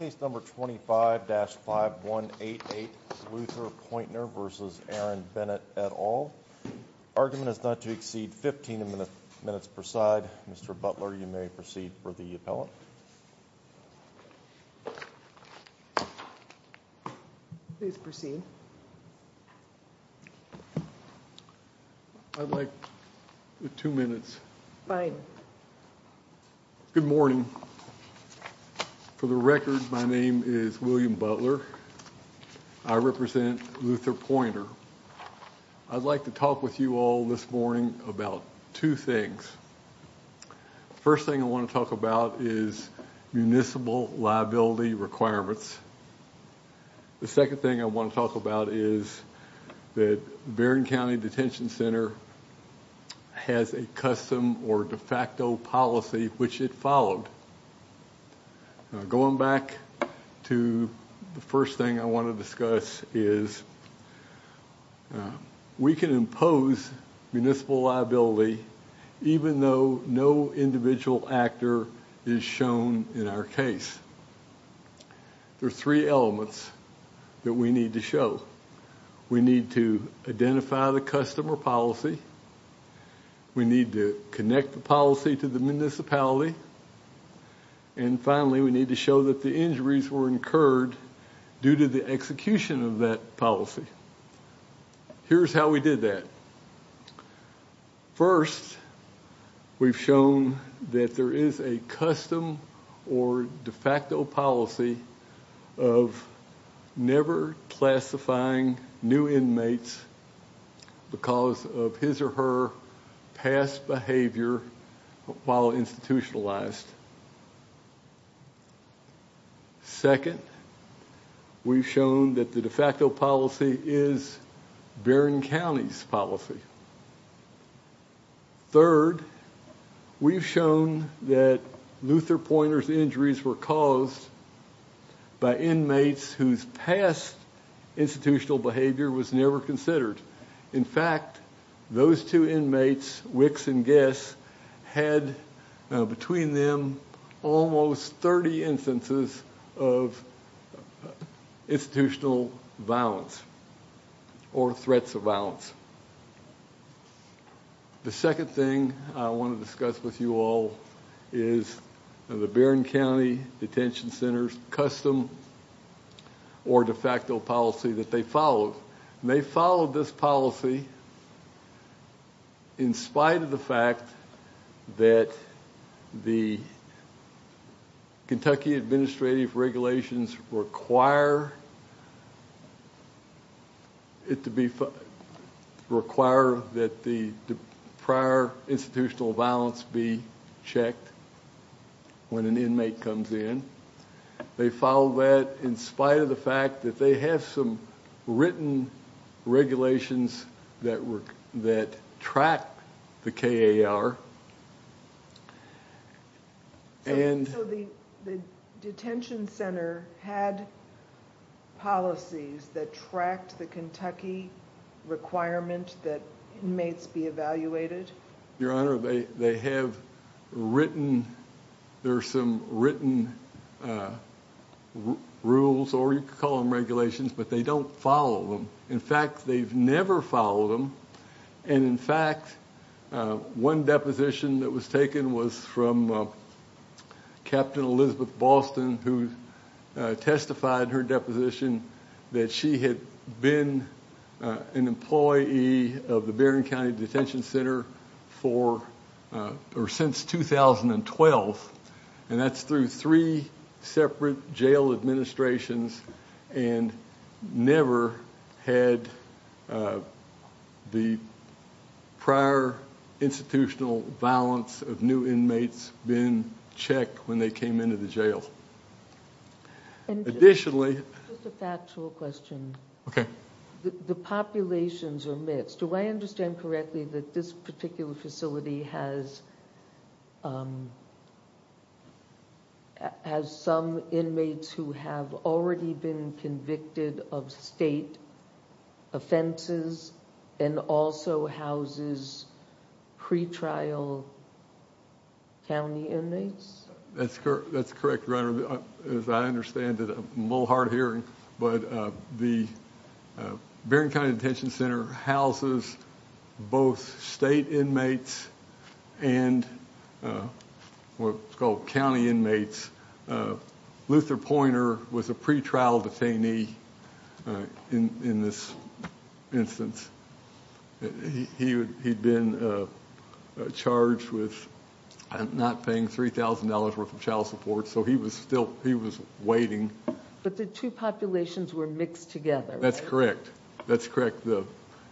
Case number 25-5188 Luther Poynter v. Aaron Bennett et al. Argument is not to exceed 15 minutes per side. Mr. Butler, you may proceed for the appellant. I'd like two minutes. Good morning. For the record, my name is William Butler. I represent Luther Poynter. I'd like to talk with you all this morning about two things. First thing I want to talk about is municipal liability requirements. The second thing I want to talk about is that Vernon County Detention Center has a custom or de facto policy which it followed. Going back to the first thing I want to discuss is we can impose municipal liability even though no individual actor is shown in our case. There are three elements that we need to show. We need to identify the custom or policy, we need to connect the policy to the municipality, and finally we need to show that the injuries were incurred due to the execution of that policy. Here's how we did that. First, we've shown that there is a custom or de facto policy of never classifying new inmates because of his or her past behavior while institutionalized. Second, we've shown that the de facto policy is Vernon County's policy. Third, we've shown that Luther Poynter's injuries were caused by inmates whose past institutional behavior was never considered. In fact, those two inmates, Wicks and Guess, had between them almost 30 instances of institutional violence or threats of violence. The second thing I want to discuss with you all is the Vernon County Detention Center's custom or de facto policy that they followed. They followed this policy in spite of the fact that the Kentucky Administrative Regulations require it to be required that the prior institutional violence be checked when an inmate comes in. They followed that in spite of the fact that they have some written regulations that track the KAR. So the detention center had policies that tracked the Kentucky requirement that inmates be evaluated? Your Honor, they have written, there are some written rules or you could call them regulations, but they don't follow them. In fact, they've never followed them. And in fact, one deposition that was taken was from Captain Elizabeth Boston, who testified in her deposition that she had been an employee of the Vernon County Detention Center since 2012. And that's through three separate jail administrations and never had the prior institutional violence of new inmates been checked when they came into the jail. Additionally, just a factual question. The populations are mixed. Do I understand correctly that this particular facility has some inmates who have already been convicted of state offenses and also houses pretrial county inmates? That's correct, Your Honor. As I understand it, a little hard hearing, but the Vernon County Detention Center houses both state inmates and what's called county inmates. Luther Pointer was a pretrial detainee in this instance. He'd been charged with not paying $3,000 worth of child support, so he was still, he was waiting. But the two populations were mixed together. That's correct. That's correct.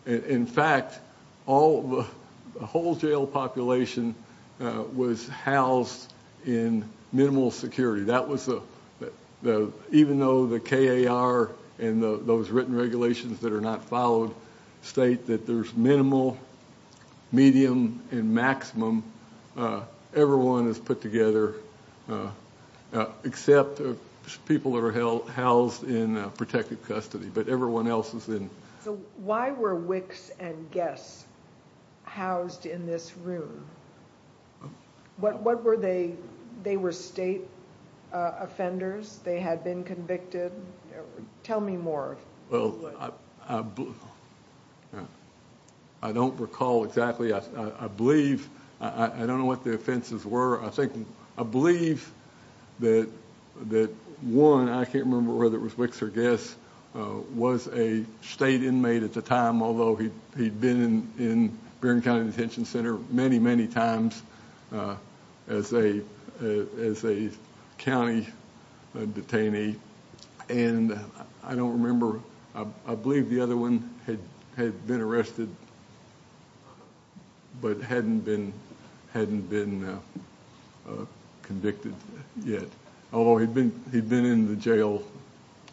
In fact, all the whole jail population was housed in minimal security. That was, even though the KAR and those written regulations that are not followed state that there's minimal, medium, and maximum, everyone is put together except people that are housed in protective custody, but everyone else is in. So why were Wicks and Guess housed in this room? What were they? They were state offenders. They had been convicted. Tell me more. Well, I don't recall exactly. I believe, I don't know what the offenses were. I think, I believe that one, I can't remember whether it was a state inmate at the time, although he'd been in Vernon County Detention Center many, many times as a county detainee, and I don't remember. I believe the other one had been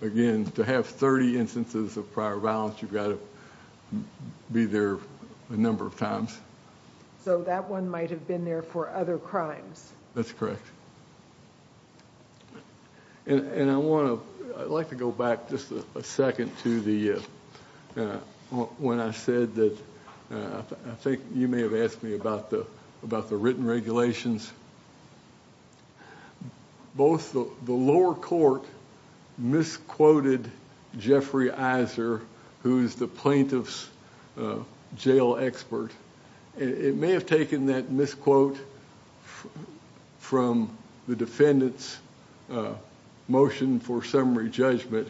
again, to have 30 instances of prior violence, you've got to be there a number of times. So that one might have been there for other crimes. That's correct. And I want to, I'd like to go back just a second to the, when I said that, I think you may have asked me about the, about the written regulations. Both the lower court misquoted Jeffrey Iser, who's the plaintiff's jail expert. It may have taken that misquote from the defendant's motion for summary judgment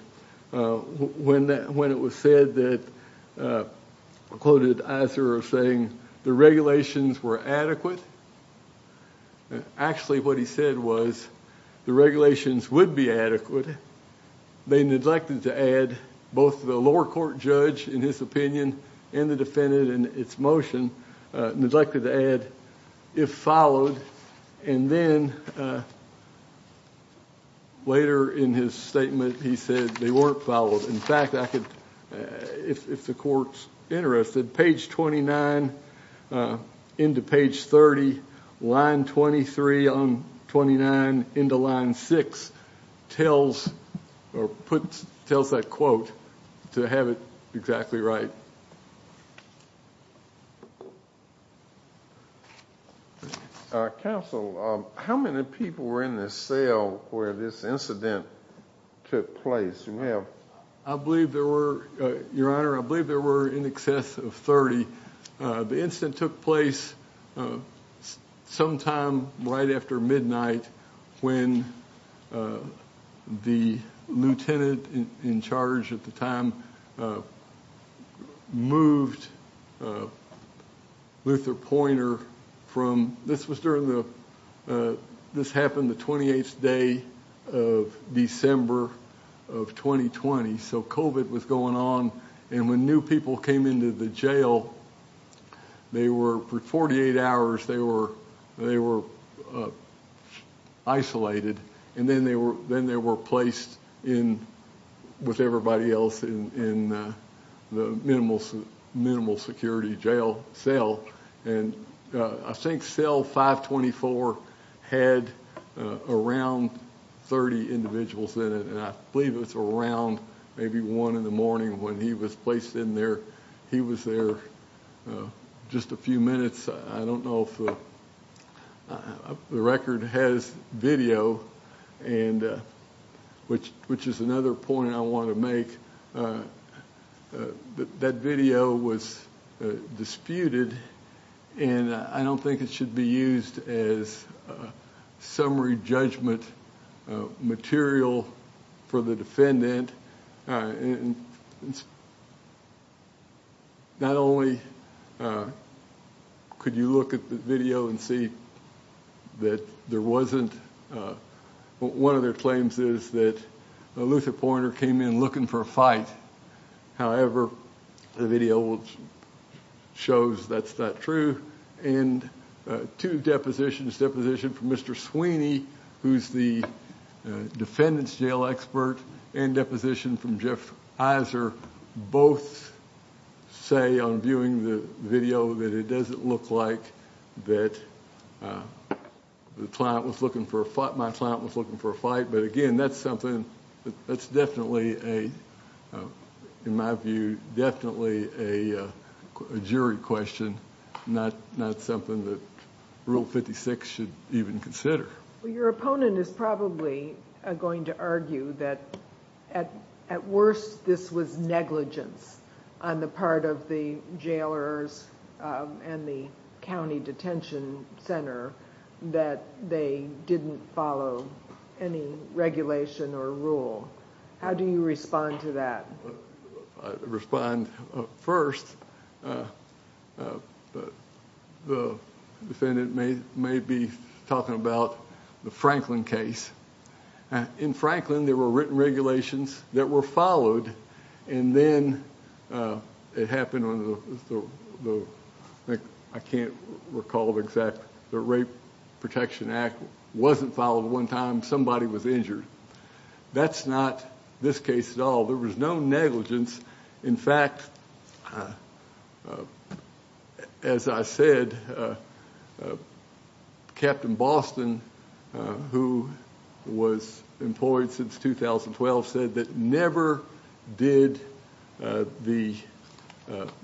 when that, when it was said that, quoted Iser as saying, the regulations were adequate, and actually what he said was, the regulations would be adequate. They neglected to add both the lower court judge, in his opinion, and the defendant in its motion, neglected to add, if followed, and then later in his statement, he said they weren't followed. In fact, I could, if the court's interested, page 29 into page 30, line 23 on 29 into line 6, tells, or puts, tells that quote to have it exactly right. Counsel, how many people were in the cell where this incident took place? You may have. I believe there were, your honor, I believe there were in excess of 30. The incident took place sometime right after midnight when the lieutenant in charge at the time moved Luther Pointer from, this was during the, this happened the 28th day of December of 2020, so COVID was going on, and when new people came into the jail, they were, for 48 hours, they were, they were isolated, and then they were, then they were in with everybody else in the minimal security jail cell, and I think cell 524 had around 30 individuals in it, and I believe it's around maybe one in the morning when he was placed in there. He was there just a few minutes. I don't know if the record has video, and which, which is another point I want to make. That video was disputed, and I don't think it should be used as summary judgment material for the defendant, and not only could you look at the video and see that there wasn't, one of their claims is that Luther Pointer came in looking for a fight. However, the video shows that's not true, and two depositions, deposition from Mr. Sweeney, who's the defendant's jail expert, and deposition from Jeff Iser both say on viewing the video that it doesn't look like that the client was looking for a fight, my client was looking for a fight, but again, that's something that's definitely a, in my view, definitely a jury question, not something that Rule 56 should even consider. Well, your opponent is probably going to argue that at worst, this was negligence on the part of the jailers and the county detention center that they didn't follow any regulation or rule. How do you respond to that? I respond, first, the defendant may be talking about the Franklin case. In Franklin, there were written regulations that were followed, and then it happened on the, I can't recall the exact, the Rape Protection Act wasn't followed one time, somebody was injured. That's not this case at all. There was no negligence. In fact, as I said, Captain Boston, who was employed since 2012, said that never did the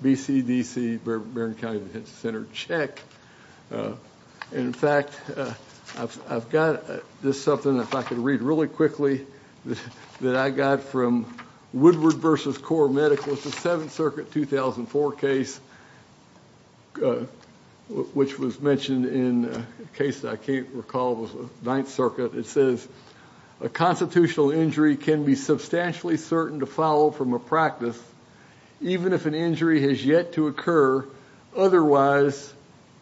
BCDC, Barron County Detention Center, check. In fact, I've got this something, if I could read really quickly, that I got from Woodward versus Core Medical. It's a 7th Circuit, 2004 case, which was mentioned in a case that I can't recall was the 9th Circuit. It says, a constitutional injury can be substantially certain to follow from a practice, even if an injury has yet to occur. Otherwise,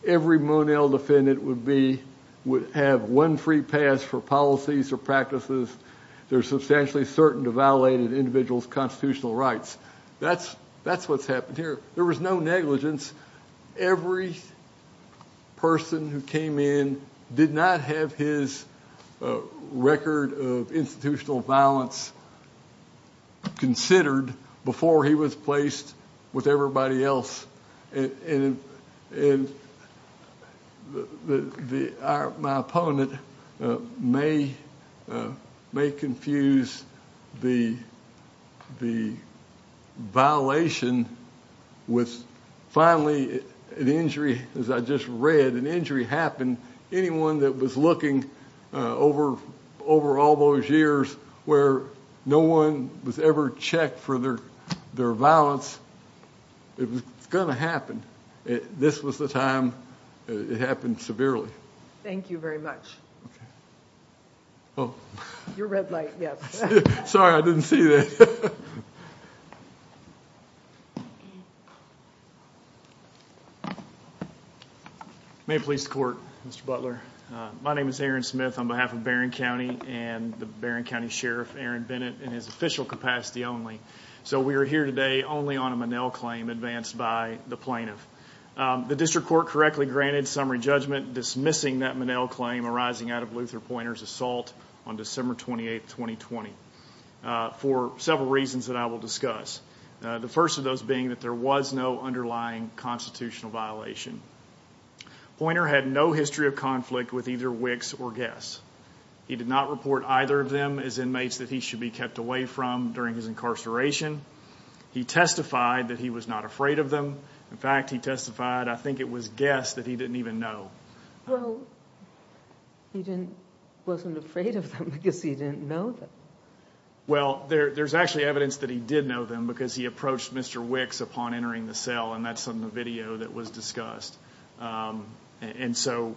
every Monell defendant would have one free pass for policies or practices. They're substantially certain to violate an individual's constitutional rights. That's what's happened here. There was no negligence. Every person who came in did not have his record of institutional violence considered before he was placed with everybody else. My opponent may confuse the violation with finally an injury. As I just read, an injury happened. Anyone that was looking over all those years where no one was ever checked for their violence, it was going to happen. This was the time it happened severely. Thank you very much. Your red light, yes. Sorry, I didn't see that. May it please the court, Mr. Butler. My name is Aaron Smith on behalf of Barron County and the Barron County Sheriff Aaron Bennett in his official capacity only. We are here today only on a Monell claim advanced by the plaintiff. The district court correctly granted summary judgment dismissing that Monell claim arising out of Luther Pointer's assault on December 28, 2020 for several reasons that I will discuss. The first of those being that there was no underlying constitutional violation. Pointer had no history of conflict with either Wicks or Guess. He did not report either of them as inmates that he should be kept away from during his incarceration. He testified that he was not afraid of them. In fact, he testified, I think it was Guess that he didn't even know. Well, he wasn't afraid of them because he didn't know them. Well, there's actually evidence that he did know them because he approached Mr. Wicks upon entering the cell and that's in the video that was discussed. And so,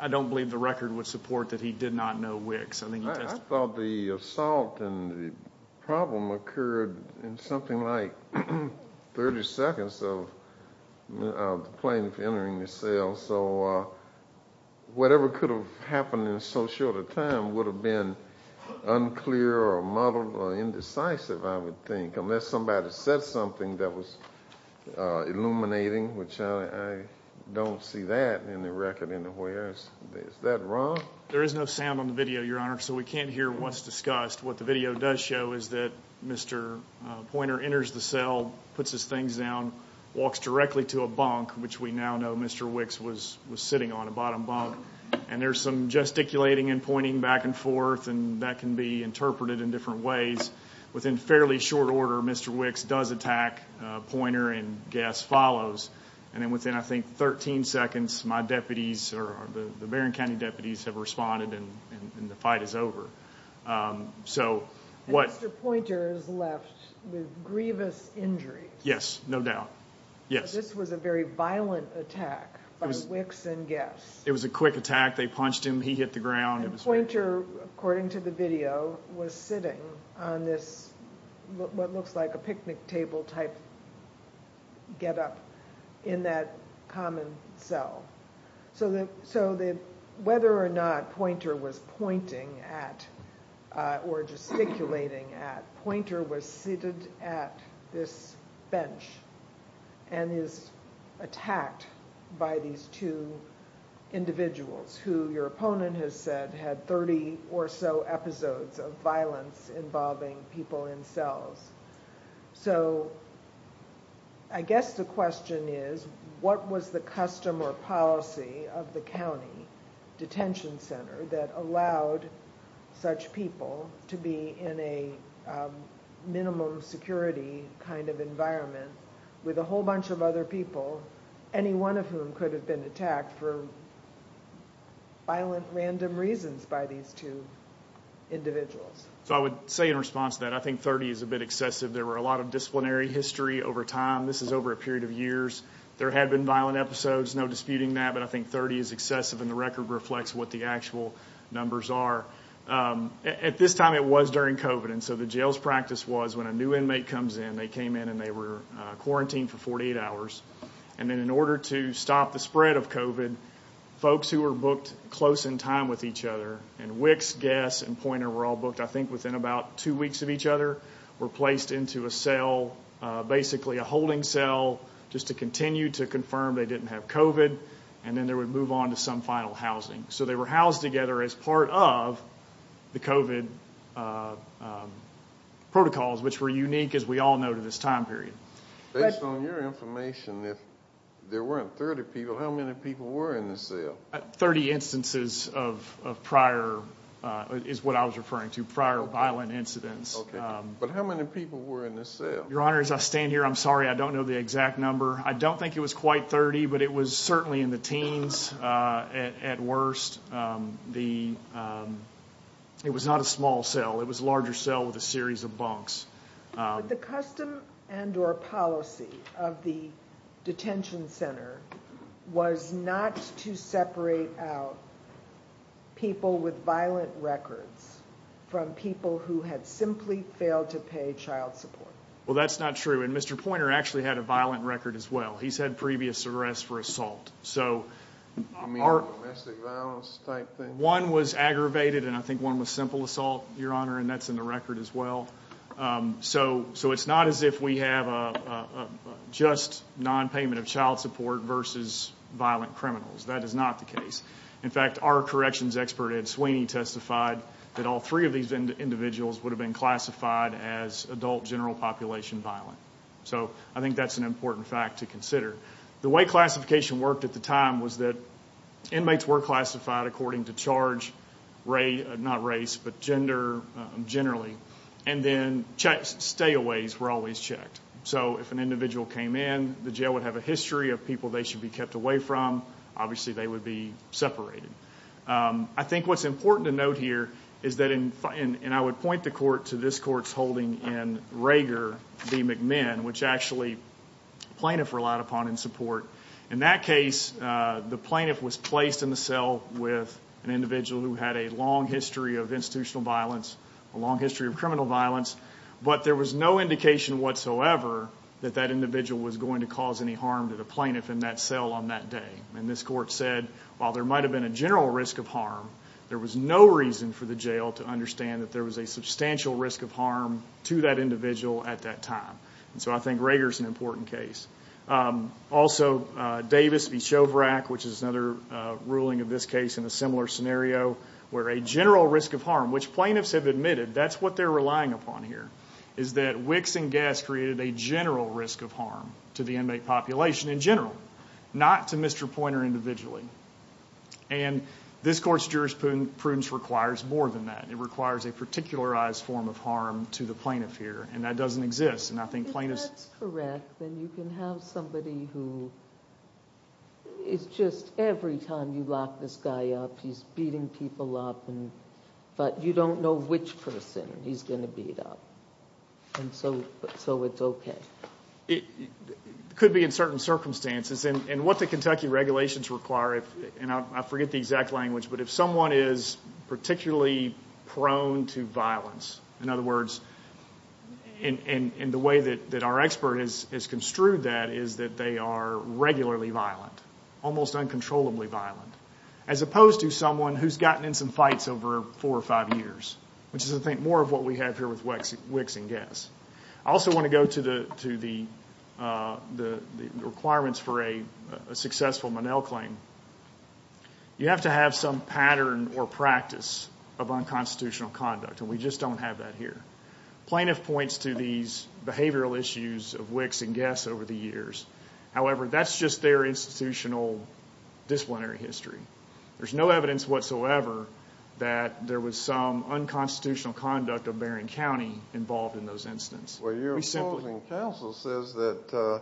I don't believe the record would support that he did not know Wicks. I thought the assault and the problem occurred in something like 30 seconds of the plaintiff entering the cell. So, whatever could have happened in so short a time would have been unclear or muddled or indecisive, I would think, unless somebody said something that was illuminating, which I don't see that in the record anywhere. Is that wrong? There is no sound on the video, your honor, so we can't hear what's discussed. What the video does show is that Mr. Pointer enters the cell, puts his things down, walks directly to a bunk, which we now know Mr. Wicks was sitting on, a bottom bunk. And there's some gesticulating and pointing back and forth, and that can be interpreted in different ways. Within fairly short order, Mr. Wicks does attack Pointer and Guess follows. And then within, I think, 13 seconds, my deputies or the Barron County deputies have responded and the fight is over. And Mr. Pointer is left with grievous injuries. Yes, no doubt. Yes. This was a very violent attack by Wicks and Guess. It was a quick attack. They punched him. He hit the ground. Pointer, according to the video, was sitting on this what looks like a picnic table type get up in that common cell. So, whether or not Pointer was pointing at or gesticulating at, Pointer was seated at this bench and is attacked by these two individuals who your opponent has said had 30 or so episodes of violence involving people in cells. So, I guess the question is, what was the custom or policy of the county detention center that allowed such people to be in a minimum security kind of environment with a whole bunch of other people, any one of whom could have been attacked for violent random reasons by these two individuals? So, I would say in response to that, I think 30 is a bit excessive. There were a lot of disciplinary history over time. This is over a period of years. There had been violent episodes, no disputing that, but I think 30 is excessive and the record reflects what the actual numbers are. At this time, it was during COVID, and so the jail's practice was when a new inmate comes in, they came in and they were quarantined for 48 hours, and then in order to stop the spread of COVID, folks who were booked close in time with each other and Wicks, Guess, and Pointer were all booked, I think, within about two weeks of each other were placed into a cell, basically a holding cell, just to continue to confirm they didn't have COVID, and then they would move on to some final housing. So, they were housed together as part of the COVID protocols, which were unique, as we all know, to this time period. Based on your information, if there weren't 30 people, how many people were in the cell? 30 instances of prior, is what I was referring to, prior violent incidents. Okay, but how many people were in the cell? Your Honor, as I stand here, I'm sorry, I don't know the exact number. I don't think it was quite 30, but it was certainly in the teens at worst. It was not a small cell. It was a larger cell with a series of bunks. But the custom and or policy of the detention center was not to separate out people with violent records from people who had simply failed to pay child support. Well, that's not true. And Mr. Poynter actually had a violent record as well. He's had previous arrests for assault. So, one was aggravated, and I think one was simple assault, Your Honor, and that's in the record as well. So, it's not as if we have a just non-payment of child support versus violent criminals. That is not the case. In fact, our corrections expert, Ed Sweeney, testified that all three of these individuals would have been classified as adult general population violent. So, I think that's an important fact to consider. The way classification worked at the time was that inmates were classified according to charge, not race, but gender generally, and then stay aways were always checked. So, if an individual came in, the jail would have a history of people they should be kept away from. Obviously, they would be separated. I think what's important to note here is that, and I would point the court to this court's holding in Rager v. McMahon, which actually plaintiff relied upon in support. In that case, the plaintiff was placed in the cell with an individual who had a long history of institutional violence, a long history of criminal violence, but there was no indication whatsoever that that individual was going to cause any harm to the plaintiff in that cell on that day. This court said, while there might have been a general risk of harm, there was no reason for the jail to understand that there was a substantial risk of harm to that individual at that time. So, I think Rager's an important case. Also, Davis v. Chovrak, which is another ruling of this case in a similar scenario, where a general risk of harm, which plaintiffs have admitted that's what they're relying upon here, is that wicks and gas created a general risk of harm to the inmate population in general, not to Mr. Poynter individually. And this court's jurisprudence requires more than that. It requires a particularized form of harm to the plaintiff here, and that doesn't exist, and I think plaintiffs... If that's correct, then you can have somebody who is just, every time you lock this guy up, he's beating people up, but you don't know which person he's going to beat up. And so it's okay. It could be in certain circumstances, and what the Kentucky regulations require, and I forget the exact language, but if someone is particularly prone to violence, in other words, and the way that our expert has construed that is that they are regularly violent, almost uncontrollably violent, as opposed to someone who's gotten in some fights over four or five years, which is, I think, more of what we have here with wicks and gas. I also want to go to the requirements for a successful Monell claim. You have to have some pattern or practice of unconstitutional conduct, and we just don't have that here. Plaintiff points to these behavioral issues of wicks and gas over the years. However, that's just their institutional disciplinary history. There's no evidence whatsoever that there was some unconstitutional conduct of Barron County involved in those incidents. Well, your opposing counsel says that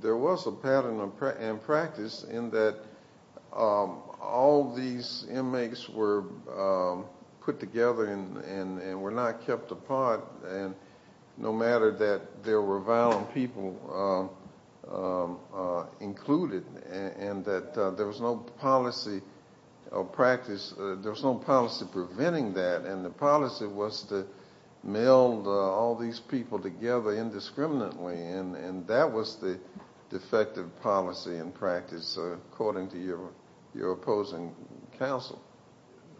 there was a pattern and practice in that all these inmates were put together and were not kept apart, and no matter that there were people included, and that there was no policy or practice, there was no policy preventing that, and the policy was to meld all these people together indiscriminately, and that was the defective policy and practice, according to your opposing counsel.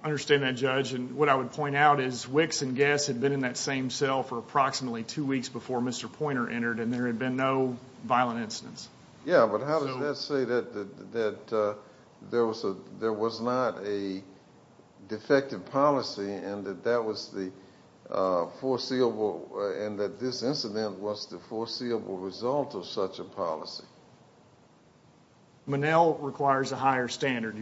I understand that, Judge, and what I would point out is wicks and gas had been in that same cell for approximately two weeks before Mr. Poynter entered, and there had been no violent incidents. Yeah, but how does that say that there was not a defective policy and that this incident was the foreseeable result of such a policy? Monell requires a higher standard,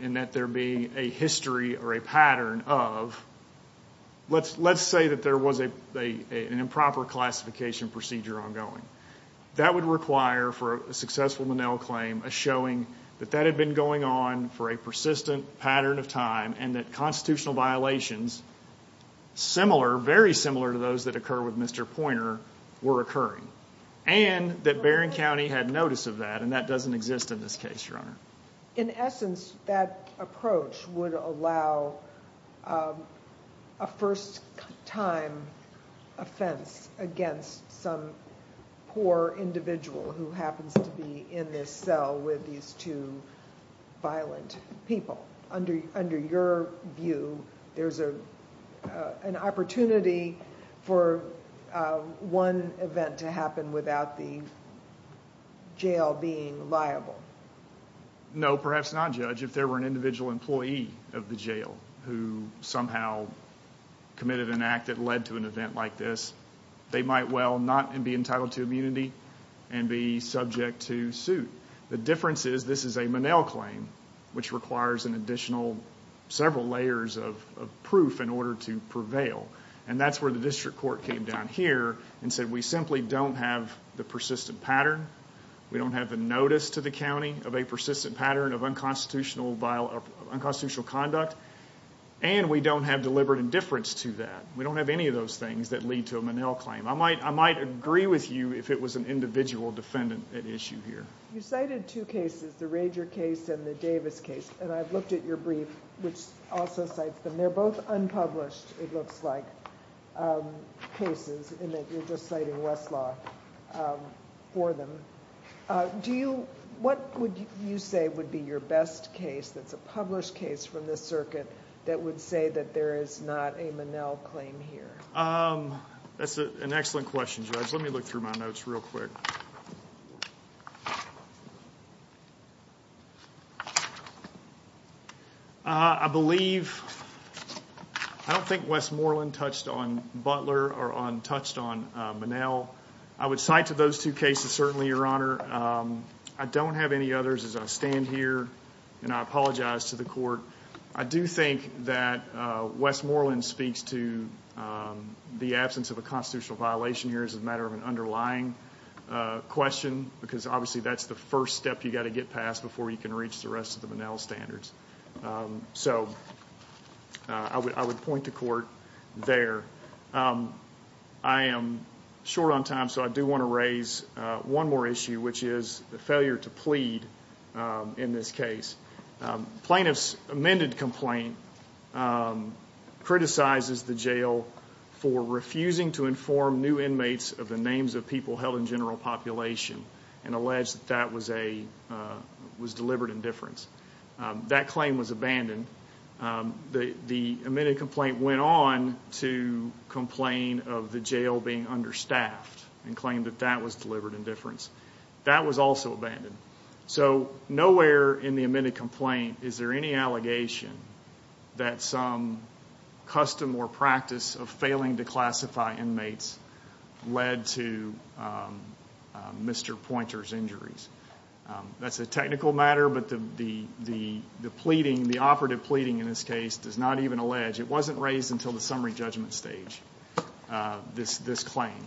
in that there be a history or a pattern of, let's say that there was an improper classification procedure ongoing. That would require, for a successful Monell claim, a showing that that had been going on for a persistent pattern of time and that constitutional violations similar, very similar, to those that occur with Mr. Poynter were occurring, and that Barron County had notice of that, and that doesn't exist in this case, Your Honor. In essence, that approach would allow a first-time offense against some poor individual who happens to be in this cell with these two violent people. Under your view, there's an opportunity for one event to happen without the jail being liable? No, perhaps not, Judge. If there were an individual employee of the jail who somehow committed an act that led to an event like this, they might well not be entitled to immunity and be subject to suit. The difference is this is a Monell claim, which requires an additional several layers of proof in order to prevail, and that's where the district court came down here and said we simply don't have the persistent pattern. We don't have the notice to the county of a persistent pattern of unconstitutional conduct, and we don't have deliberate indifference to that. We don't have any of those things that lead to a Monell claim. I might agree with you if it was an individual defendant at issue here. You cited two cases, the Rager case and the Davis case, and I've looked at your brief, which also cites them. They're both unpublished, it looks like, cases in that you're just citing Westlaw for them. What would you say would be your best case that's a published case from this circuit that would say that there is not a Monell claim here? That's an excellent question, Judge. Let me look through my notes real quick. I don't think Westmoreland touched on Butler or touched on Monell. I would cite to those two cases, certainly, Your Honor. I don't have any others as I stand here, and I apologize to the court. I do think that Westmoreland speaks to the absence of a constitutional violation here as a matter of an underlying question, because, obviously, that's the first step you've got to get past before you can reach the rest of the Monell standards. I would point to court there. I am short on time, so I do want to raise one more issue, which is the failure to plead in this case. Plaintiff's amended complaint criticizes the jail for refusing to inform new inmates of the names of people held in general population and alleged that that was delivered in difference. That claim was abandoned. The amended complaint went on to complain of the jail being understaffed and claimed that that was delivered in difference. That was also abandoned. Nowhere in the amended complaint is there any allegation that some custom or practice of failing to classify inmates led to Mr. Pointer's injuries. That's a technical matter, but the pleading, the operative pleading in this case, does not even allege. It wasn't raised until the summary judgment stage, this claim.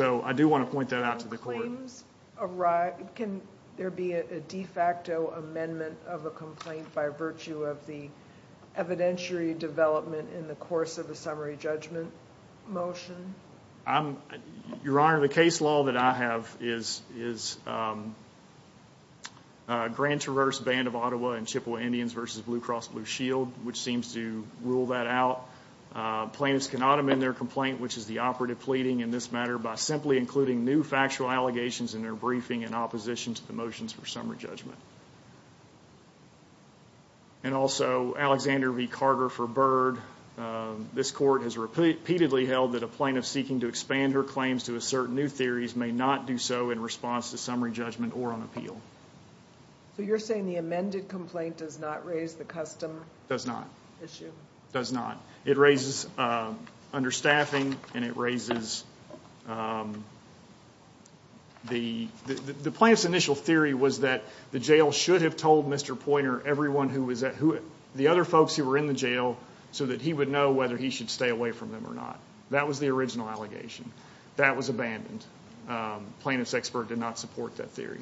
I do want to point that out to the court. Can there be a de facto amendment of a complaint by virtue of the evidentiary development in the course of a summary judgment motion? Your Honor, the case law that I have is Grand Traverse Band of Ottawa and Chippewa Indians v. Blue Cross Blue Shield, which seems to rule that out. Plaintiffs cannot amend their complaint, which is the operative pleading in this matter, by simply including new factual allegations in their briefing in opposition to the motions for summary judgment. And also, Alexander v. Carter v. Byrd. This court has repeatedly held that a plaintiff seeking to expand her claims to assert new theories may not do so in response to summary judgment or on appeal. So you're saying the amended complaint does not raise the custom issue? It does not. It raises understaffing and it raises the plaintiff's initial theory was that the jail should have told Mr. Poynter, the other folks who were in the jail, so that he would know whether he should stay away from them or not. That was the original allegation. That was abandoned. Plaintiff's expert did not support that theory.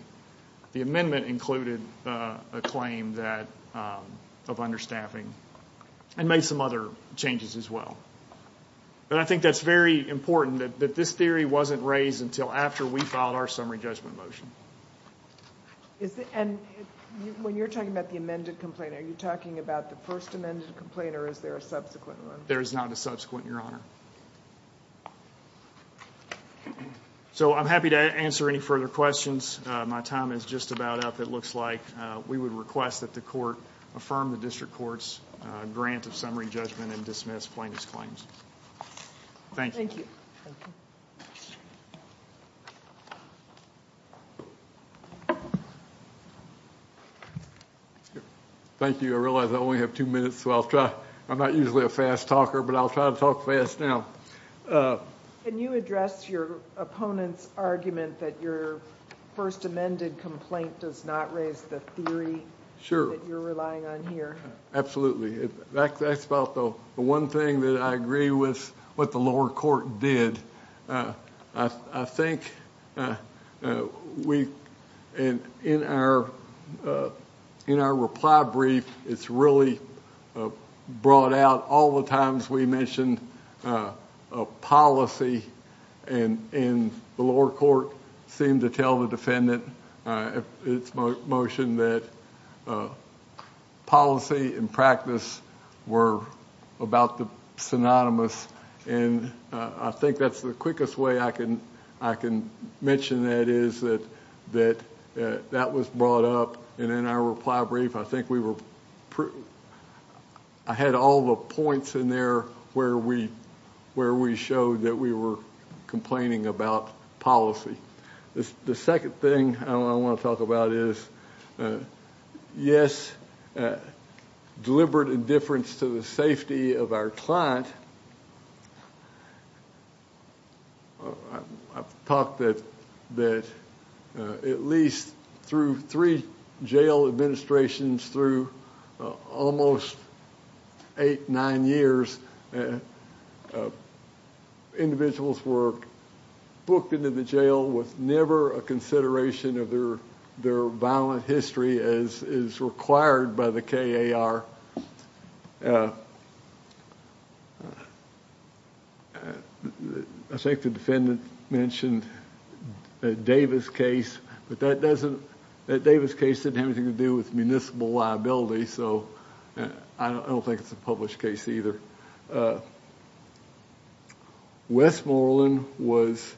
The amendment included a claim of understaffing and made some other changes as well. But I think that's very important that this theory wasn't raised until after we filed our summary judgment motion. And when you're talking about the amended complaint, are you talking about the first amended complaint or is there a subsequent one? There is not a subsequent, Your Honor. So I'm happy to answer any further questions. My time is just about up. It looks like we would request that the court affirm the district court's grant of summary judgment and dismiss plaintiff's claims. Thank you. Thank you. I realize I only have two minutes, so I'll try. I'm not usually a fast talker, but I'll try to talk fast now. Can you address your opponent's argument that your first amended complaint does not raise the theory that you're relying on here? Absolutely. That's about the one thing that I agree with what the lower court did. I think in our reply brief, it's really brought out all the times we mentioned a policy and the lower court seemed to tell the defendant in its motion that policy and practice were about the synonymous. And I think that's the quickest way I can mention that is that that was brought up. And in our reply brief, I think we were I had all the points in there where we showed that we were complaining about policy. The second thing I want to talk about is, yes, deliberate indifference to the safety of our client. I've talked that at least through three jail administrations through almost eight, nine years, individuals were booked into the jail with never a consideration of their violent history as is required by the K.A.R. I think the defendant mentioned a Davis case, but that doesn't that Davis case didn't have anything to do with municipal liability. So I don't think it's a published case either. Westmoreland was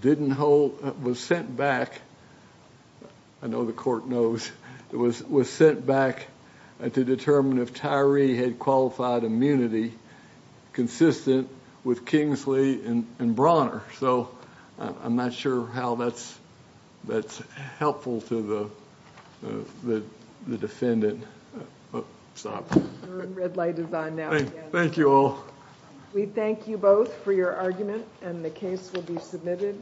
didn't hold was sent back. I know the court knows it was was sent back to determine if Tyree had qualified immunity consistent with Kingsley and Bronner. So I'm not sure how that's that's helpful to the defendant. Oh, stop. The red light is on now. Thank you all. We thank you both for your argument and the case will be submitted.